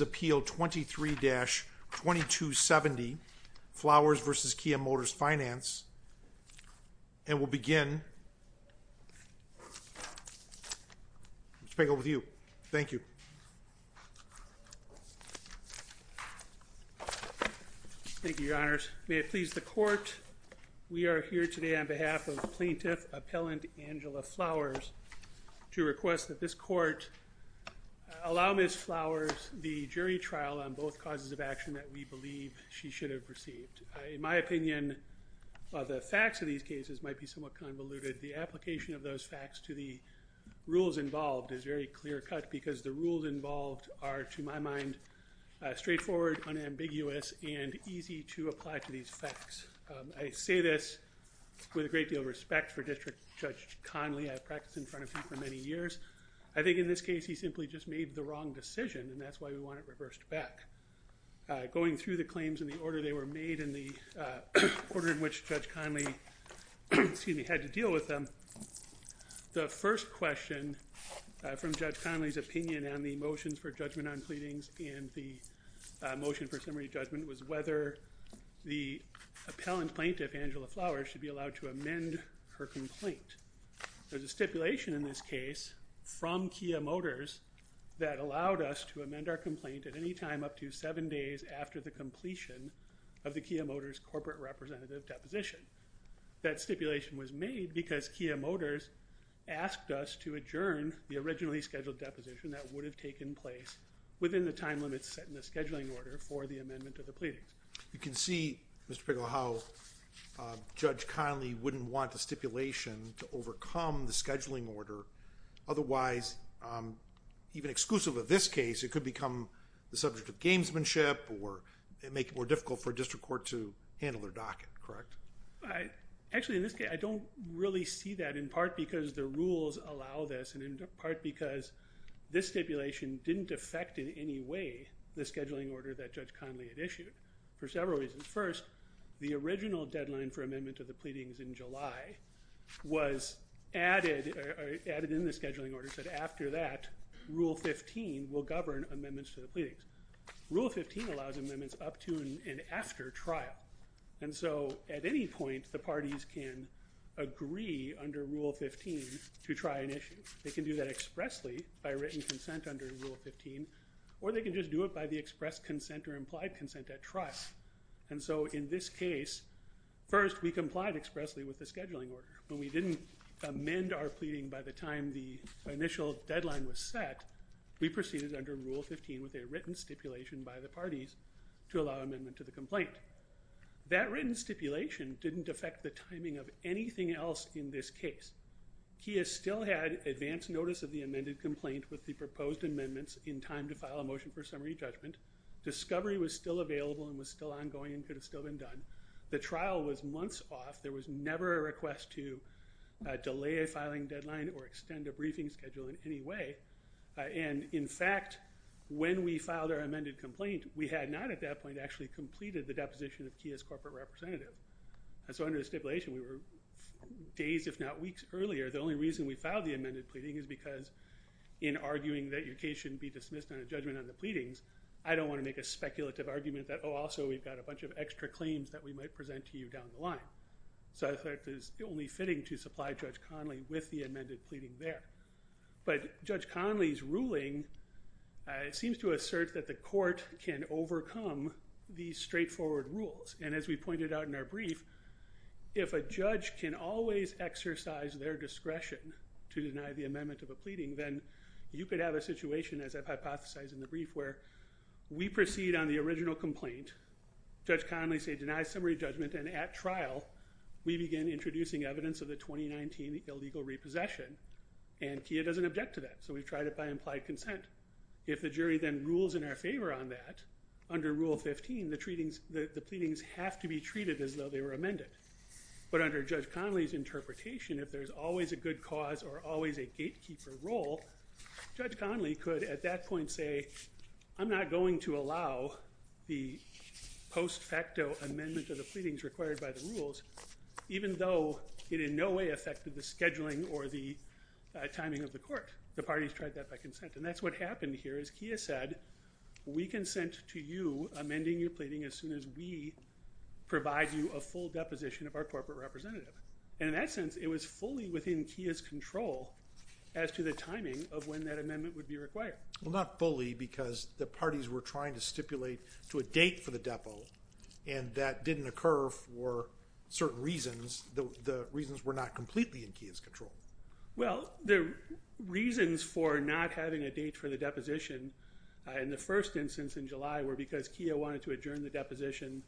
appeal 23-2270 Flowers v. Kia Motors Finance and we'll begin. Mr. Pagel with you. Thank you. Thank you your honors. May it please the court we are here today on behalf of plaintiff appellant Angela Flowers to request that this court allow Miss Flowers the jury trial on both causes of action that we believe she should have received. In my opinion the facts of these cases might be somewhat convoluted. The application of those facts to the rules involved is very clear-cut because the rules involved are to my mind straightforward, unambiguous and easy to apply to these facts. I say this with a great deal of respect for District Judge Conley. I've practiced in front of him for many years. I think in this case he simply just made the wrong decision and that's why we want it reversed back. Going through the claims in the order they were made in the order in which Judge Conley had to deal with them, the first question from Judge Conley's opinion on the motions for judgment on pleadings and the motion for summary judgment was whether the appellant plaintiff Angela Flowers should be allowed to amend her complaint. There's a stipulation in this case from Kia Motors that allowed us to amend our complaint at any time up to seven days after the completion of the Kia Motors corporate representative deposition. That stipulation was made because Kia Motors asked us to adjourn the originally scheduled deposition that would have taken place within the time limits set in the scheduling order for the amendment of the pleadings. You can see Mr. Pickle how Judge Conley wouldn't want the stipulation to overcome the scheduling order otherwise even exclusive of this case it could become the subject of gamesmanship or make it more difficult for district court to handle their docket correct? I actually in this case I don't really see that in part because the rules allow this and in part because this stipulation didn't affect in any way the scheduling order that Judge Conley had issued for several reasons. First the original deadline for amendment of the pleadings in July was added or added in the scheduling order said after that rule 15 will govern amendments to the pleadings. Rule 15 allows amendments up to and after trial and so at any point the parties can agree under rule 15 to try an issue. They can do that expressly by written consent under rule 15 or they can just do it by the express consent or implied consent at trial and so in this case first we complied expressly with the scheduling order when we didn't amend our pleading by the time the initial deadline was set we proceeded under rule 15 with a written stipulation by the parties to allow amendment to the complaint. That written stipulation didn't affect the timing of anything else in this case. KIA still had advanced notice of the amended complaint with the proposed amendments in time to file a motion for summary judgment. Discovery was still available and was still ongoing and could have still been done. The trial was months off there was never a request to delay a filing deadline or extend a briefing schedule in any way and in fact when we filed our amended complaint we had not at that point actually completed the deposition of KIA's days if not weeks earlier. The only reason we filed the amended pleading is because in arguing that your case shouldn't be dismissed on a judgment on the pleadings I don't want to make a speculative argument that oh also we've got a bunch of extra claims that we might present to you down the line. So that is only fitting to supply Judge Conley with the amended pleading there but Judge Conley's ruling seems to assert that the court can overcome these straightforward rules and as we pointed out in our brief if a judge can always exercise their discretion to deny the amendment of a pleading then you could have a situation as I've hypothesized in the brief where we proceed on the original complaint Judge Conley say deny summary judgment and at trial we begin introducing evidence of the 2019 illegal repossession and KIA doesn't object to that so we've tried it by implied consent. If the jury then rules in our favor on that under rule 15 the pleadings have to be treated as though they were amended but under Judge Conley's interpretation if there's always a good cause or always a gatekeeper role Judge Conley could at that point say I'm not going to allow the post-facto amendment of the pleadings required by the rules even though it in no way affected the scheduling or the timing of the court. The parties tried that by consent and that's what happened here as KIA said we consent to you amending your provide you a full deposition of our corporate representative and in that sense it was fully within KIA's control as to the timing of when that amendment would be required. Well not fully because the parties were trying to stipulate to a date for the depo and that didn't occur for certain reasons the reasons were not completely in KIA's control. Well the reasons for not having a date for the deposition in the first instance in July were because KIA wanted to adjourn the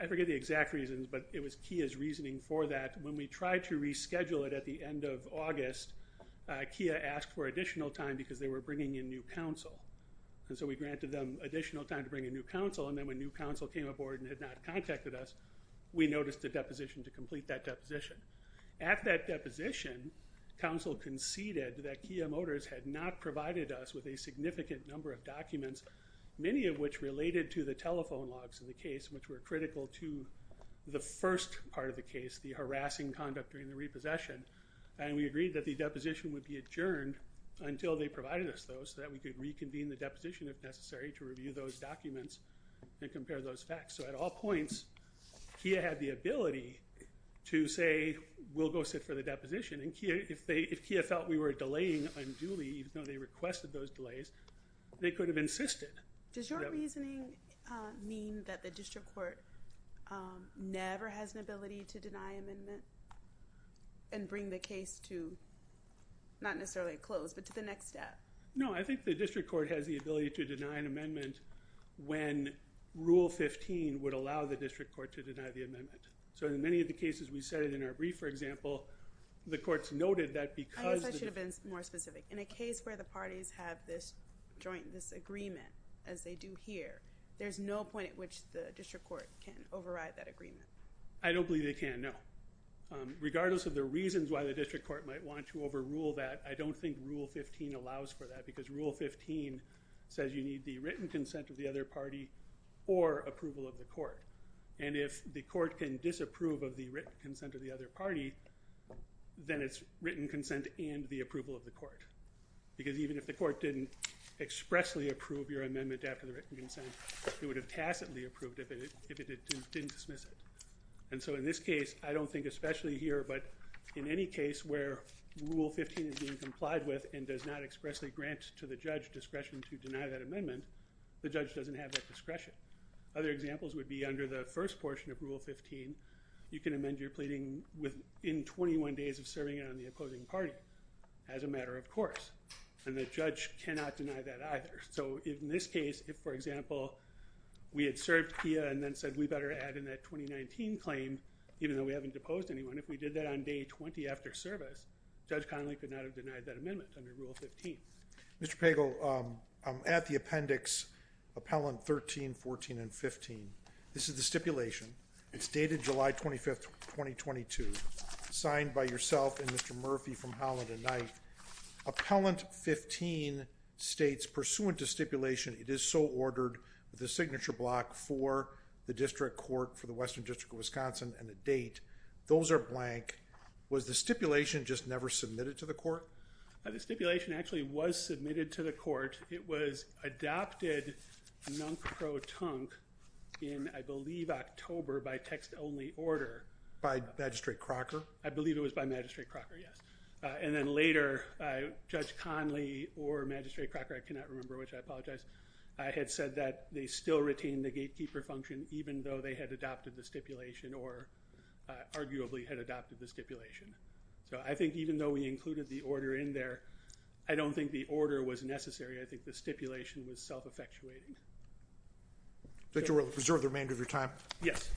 I forget the exact reasons but it was KIA's reasoning for that when we tried to reschedule it at the end of August KIA asked for additional time because they were bringing in new counsel and so we granted them additional time to bring a new counsel and then when new counsel came aboard and had not contacted us we noticed a deposition to complete that deposition. At that deposition counsel conceded that KIA Motors had not provided us with a significant number of documents many of which related to the telephone logs in the case which were critical to the first part of the case the harassing conduct during the repossession and we agreed that the deposition would be adjourned until they provided us those so that we could reconvene the deposition if necessary to review those documents and compare those facts. So at all points KIA had the ability to say we'll go sit for the deposition and KIA if they if KIA felt we were delaying unduly even they requested those delays they could have insisted. Does your reasoning mean that the district court never has an ability to deny amendment and bring the case to not necessarily close but to the next step? No I think the district court has the ability to deny an amendment when rule 15 would allow the district court to deny the amendment so in many of the cases we said it in our brief for example the courts noted that because. I guess I should have been more specific in a case where the parties have this joint this agreement as they do here there's no point at which the district court can override that agreement. I don't believe they can no regardless of the reasons why the district court might want to overrule that I don't think rule 15 allows for that because rule 15 says you need the written consent of the other party or approval of the court and if the court can disapprove of the written consent of the other party then it's written consent and the approval of the court because even if the court didn't expressly approve your amendment after the written consent it would have tacitly approved if it didn't dismiss it and so in this case I don't think especially here but in any case where rule 15 is being complied with and does not expressly grant to the judge discretion to deny that amendment the judge doesn't have that discretion. Other examples would be under the first portion of rule 15 you can amend your pleading within 21 days of serving on the opposing party as a matter of course and the judge cannot deny that either so if in this case if for example we had served here and then said we better add in that 2019 claim even though we haven't deposed anyone if we did that on day 20 after service Judge Connolly could not have denied that amendment under rule 15. Mr. Pagel I'm at the appendix appellant 13 14 and 15 this is the stipulation it's dated July 25th 2022 signed by yourself and Mr. Murphy from Holland and Knife. Appellant 15 states pursuant to stipulation it is so ordered the signature block for the district court for the western district of Wisconsin and the date those are blank was the stipulation just never submitted to the court? The stipulation actually was submitted to the court it was adopted nunk-pro-tunk in I believe October by text only order. By Magistrate Crocker? I believe it was by Magistrate Crocker yes and then later Judge Connolly or Magistrate Crocker I cannot remember which I apologize I had said that they still retained the gatekeeper function even though they had adopted the stipulation or arguably had adopted the stipulation so I think even though we included the order in there I don't think the order was necessary I think the stipulation was self-effectuating. That you will preserve the remainder of your time? Yes.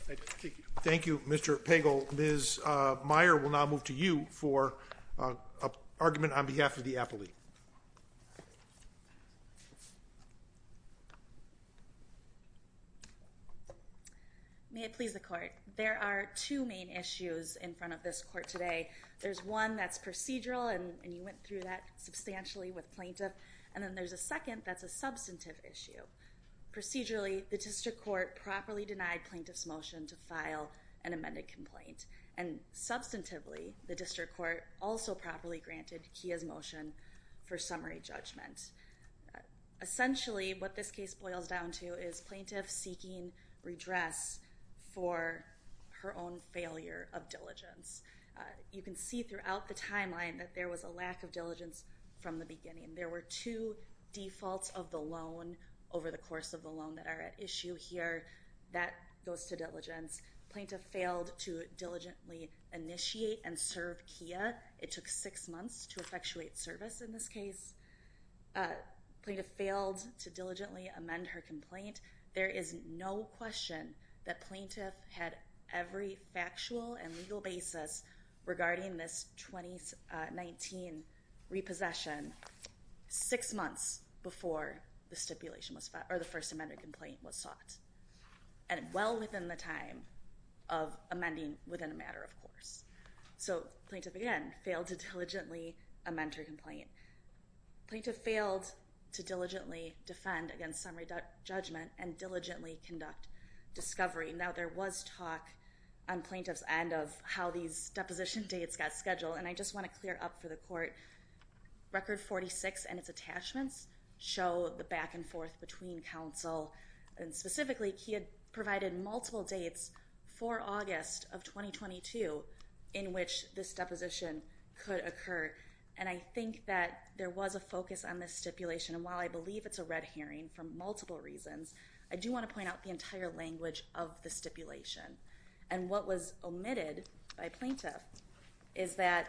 Thank you Mr. Pagel. Ms. Meier will now move to you for a argument on behalf of the appellate. May it please the court there are two main issues in front of this court today there's one that's procedural and you went through that substantially with plaintiff and then there's a second that's a substantive issue procedurally the district court properly denied plaintiff's motion to file an amended complaint and substantively the district court also properly granted Kia's motion for summary judgment essentially what this case boils down to is plaintiff seeking redress for her own failure of diligence you can see throughout the timeline that there was a lack of diligence from the beginning there were two defaults of the loan over the course of the loan that are at issue here that goes to diligence plaintiff failed to diligently initiate and serve Kia it took six months to effectuate service in this case plaintiff failed to diligently amend her complaint there is no question that plaintiff had every factual and legal basis regarding this 2019 repossession six months before the stipulation was or the first amended complaint was sought and well within the time of amending within a matter of course so plaintiff again failed to diligently a mentor complaint plaintiff failed to diligently defend against summary judgment and diligently conduct discovery now there was talk on plaintiff's end of how these deposition dates got scheduled and I just want to clear up for the court record 46 and its attachments show the back and forth between counsel and specifically Kia provided multiple dates for August of 2022 in which this deposition could occur and I think that there was a focus on this stipulation and while I believe it's a red herring for multiple reasons I do want to point out the entire language of the stipulation and what was omitted by plaintiff is that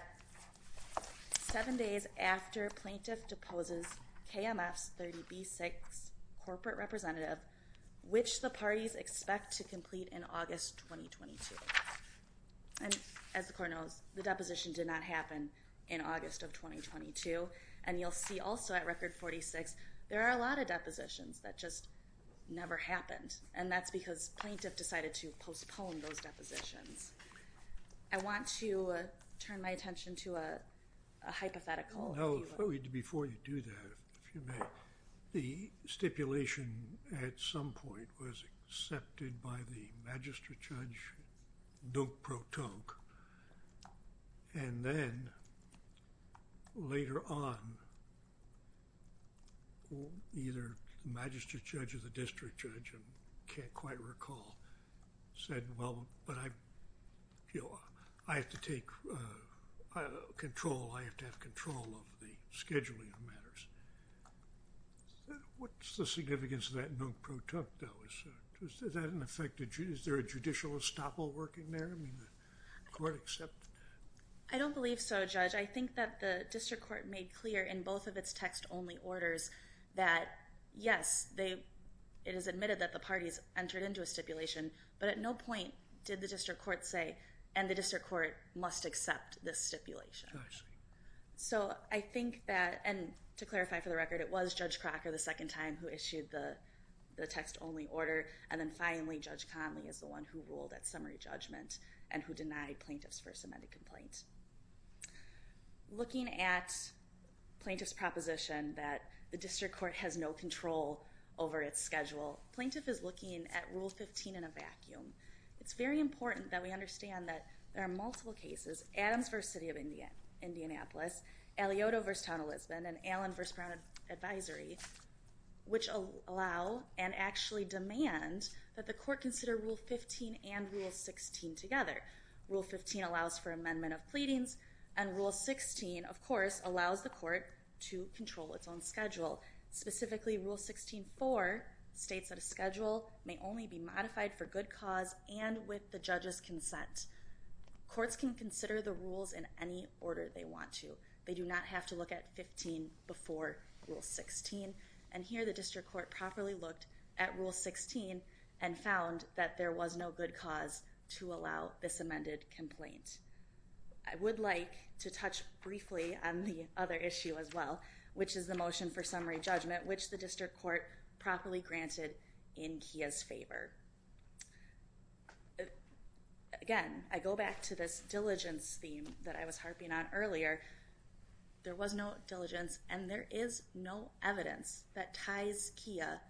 seven days after plaintiff deposes KMF's 30b6 corporate representative which the parties expect to complete in August 2022 and as the court knows the deposition did not happen in August of 2022 and you'll see also at record 46 there are a lot of depositions that just never happened and that's because plaintiff decided to postpone those depositions I want to turn my attention to a hypothetical no food before you do that if you make the stipulation at some point was accepted by the magistrate judge don't protonic and then later on either magistrate judge of the district judge and can't quite recall said well but I you know I have to take control I have to have control of the scheduling of matters what's the significance of that no protonic though is that an effective is there a judicial estoppel working there I mean the court except I don't believe so judge I think that the district court made clear in both of its text-only orders that yes they it is admitted that the parties entered into a stipulation but at no point did the district court say and the district court must accept this stipulation so I think that and to clarify for the record it was judge Crocker the second time who issued the the text-only order and then finally judge Conley is the one who ruled at summary judgment and who denied plaintiff's amended complaint looking at plaintiff's proposition that the district court has no control over its schedule plaintiff is looking at rule 15 in a vacuum it's very important that we understand that there are multiple cases Adams versus City of India Indianapolis Eliotta versus Town of Lisbon and Allen versus Brown advisory which allow and actually demand that the court consider rule 15 and rule 16 together rule 15 allows for amendment of pleadings and rule 16 of course allows the court to control its own schedule specifically rule 16 for states that a schedule may only be modified for good cause and with the judge's consent courts can consider the rules in any order they want to they do not have to look at 15 before rule 16 and here the district court properly looked at rule 16 and found that there was no good cause to allow this amended complaint I would like to touch briefly on the other issue as well which is the motion for summary judgment which the district court properly granted in Kia's favor again I go back to this diligence theme that I was harping on earlier there was no diligence and there is no evidence that ties Kia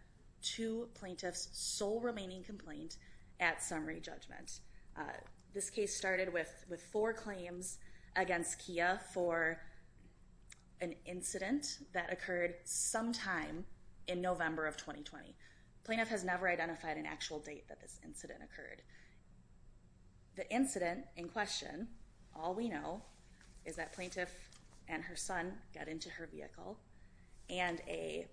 to plaintiff's sole remaining complaint at summary judgment this case started with with four claims against Kia for an incident that occurred sometime in November of 2020 plaintiff has never identified an actual date that this incident occurred the incident in question all we know is that plaintiff and her son got into her vehicle and a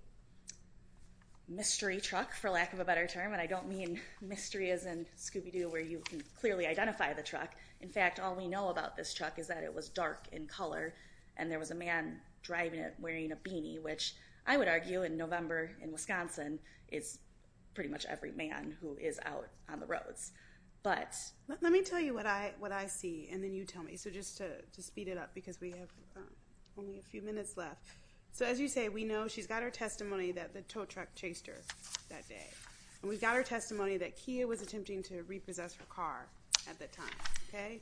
mystery truck for lack of a better term and I don't mean mystery as in Scooby-Doo where you can clearly identify the truck in fact all we know about this truck is that it was dark in color and there was a man driving it wearing a beanie which I is out on the roads but let me tell you what I what I see and then you tell me so just to to speed it up because we have only a few minutes left so as you say we know she's got her testimony that the tow truck chased her that day and we've got her testimony that Kia was attempting to repossess her car at the time okay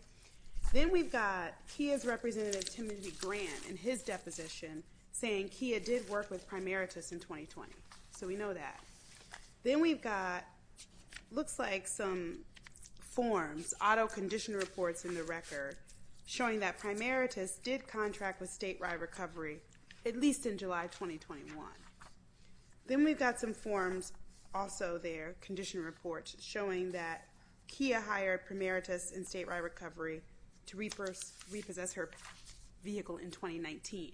then we've got Kia's representative Timothy Grant in his office and then we've got looks like some forms auto condition reports in the record showing that primaritist did contract with state-wide recovery at least in July 2021 then we've got some forms also their condition reports showing that Kia hired primaritist in state-wide recovery to repurpose repossess her vehicle in 2019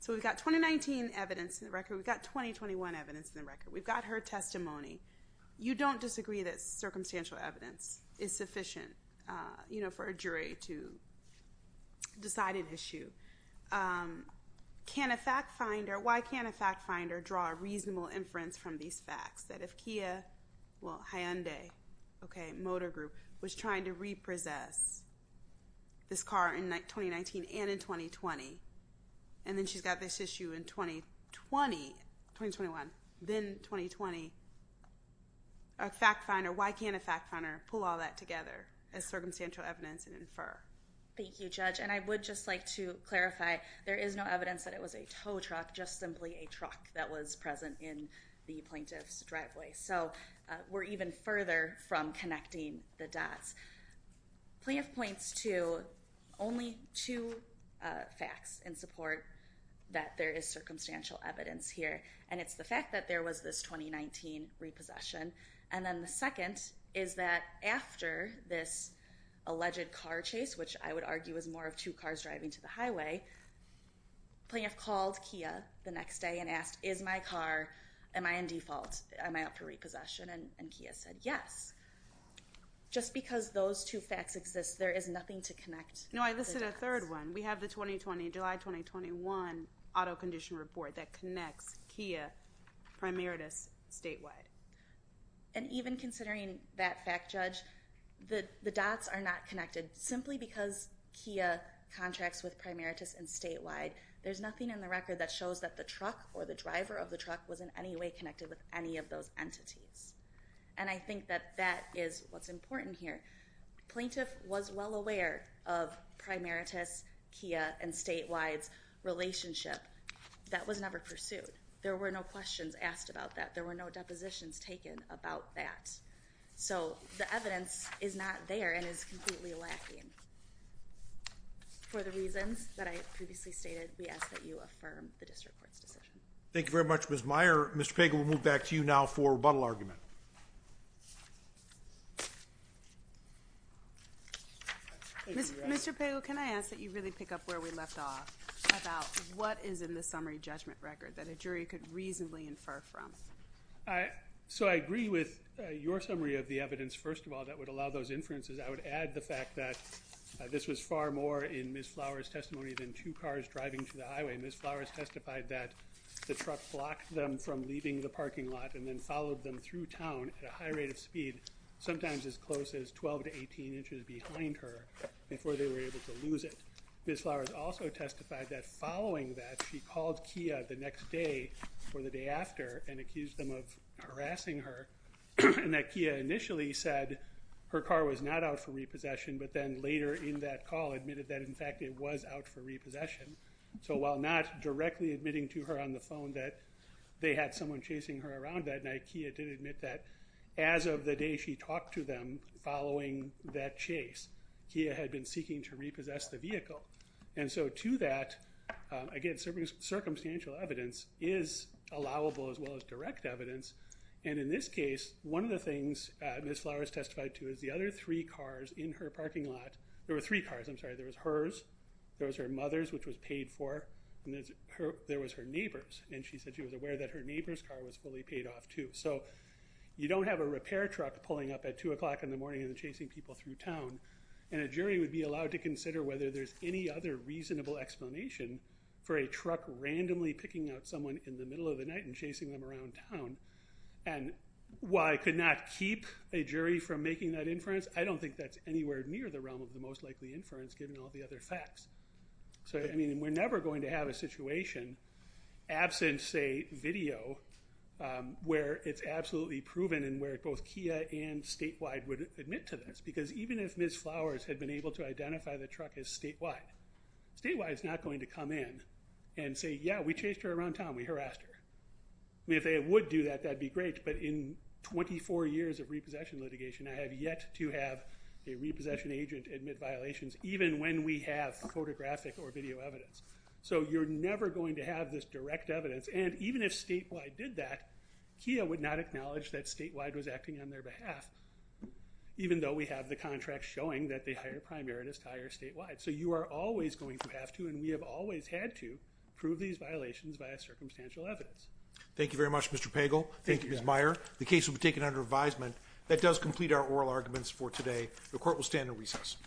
so we've got 2019 evidence in the record we've got 2021 evidence in the record we've got her testimony you don't disagree that circumstantial evidence is sufficient you know for a jury to decide an issue can a fact finder why can't a fact finder draw a reasonable inference from these facts that if Kia well Hyundai okay motor group was trying to repossess this car in 2019 and in 2020 and then she's got this issue in 2020 then 2020 a fact finder why can't a fact finder pull all that together as circumstantial evidence and infer thank you judge and I would just like to clarify there is no evidence that it was a tow truck just simply a truck that was present in the plaintiff's driveway so we're even further from connecting the dots plea of points to only two facts in support that there is circumstantial evidence here and it's the fact that there was this 2019 repossession and then the second is that after this alleged car chase which I would argue is more of two cars driving to the highway plaintiff called Kia the next day and asked is my car am I in default am I up for repossession and Kia said yes just because those two facts exist there is nothing to connect no I listed a third one we have the 2020 July 2021 auto condition report that connects Kia primarities statewide and even considering that fact judge the the dots are not connected simply because Kia contracts with primarities and statewide there's nothing in the record that shows that the truck or the driver of the truck was in any way connected with any of those entities and I think that that is what's Kia and statewide's relationship that was never pursued there were no questions asked about that there were no depositions taken about that so the evidence is not there and is completely lacking for the reasons that I previously stated we ask that you affirm the district court's decision thank you very much Ms. Meyer Mr. Pagel we'll move back to you now for rebuttal argument Mr. Pagel can I ask that you really pick up where we left off about what is in the summary judgment record that a jury could reasonably infer from I so I agree with your summary of the evidence first of all that would allow those inferences I would add the fact that this was far more in Ms. Flowers testimony than two cars driving to the highway Ms. Flowers testified that the truck blocked them from leaving the parking lot and then followed them through town at a high rate of speed sometimes as close as 12 to 18 inches behind her before they were able to lose it Ms. Flowers also testified that following that she called Kia the next day for the day after and accused them of harassing her and that Kia initially said her car was not out for repossession but then later in that call admitted that in fact it was out for repossession so while not directly admitting to her on the phone that they had someone chasing her around that night Kia did admit that as of the day she talked to them following that chase Kia had been seeking to repossess the vehicle and so to that again circumstantial evidence is allowable as well as direct evidence and in this case one of the things Ms. Flowers testified to is the other three cars in her parking lot there were three cars I'm sorry there was hers there was her mother's which was paid for and there was her neighbor's and she said she was aware that her neighbor's car was fully paid off too so you don't have a repair truck pulling up at two o'clock in the morning and chasing people through town and a jury would be allowed to consider whether there's any other reasonable explanation for a truck randomly picking out someone in the middle of the night and chasing them around town and why could not keep a jury from making that inference I don't think that's anywhere near the realm of the most likely inference given all the other facts so I mean we're never going to have a situation absent say video where it's absolutely proven and where both Kia and statewide would admit to this because even if Ms. Flowers had been able to identify the truck as statewide statewide is not going to come in and say yeah we chased her around town we harassed her I mean if they would do that that'd be great but in 24 years of repossession or video evidence so you're never going to have this direct evidence and even if statewide did that Kia would not acknowledge that statewide was acting on their behalf even though we have the contract showing that they hire a primaritist hire statewide so you are always going to have to and we have always had to prove these violations by a circumstantial evidence thank you very much Mr. Pagel thank you Ms. Meyer the case will be taken under advisement that does complete our oral arguments for today the court will stand in recess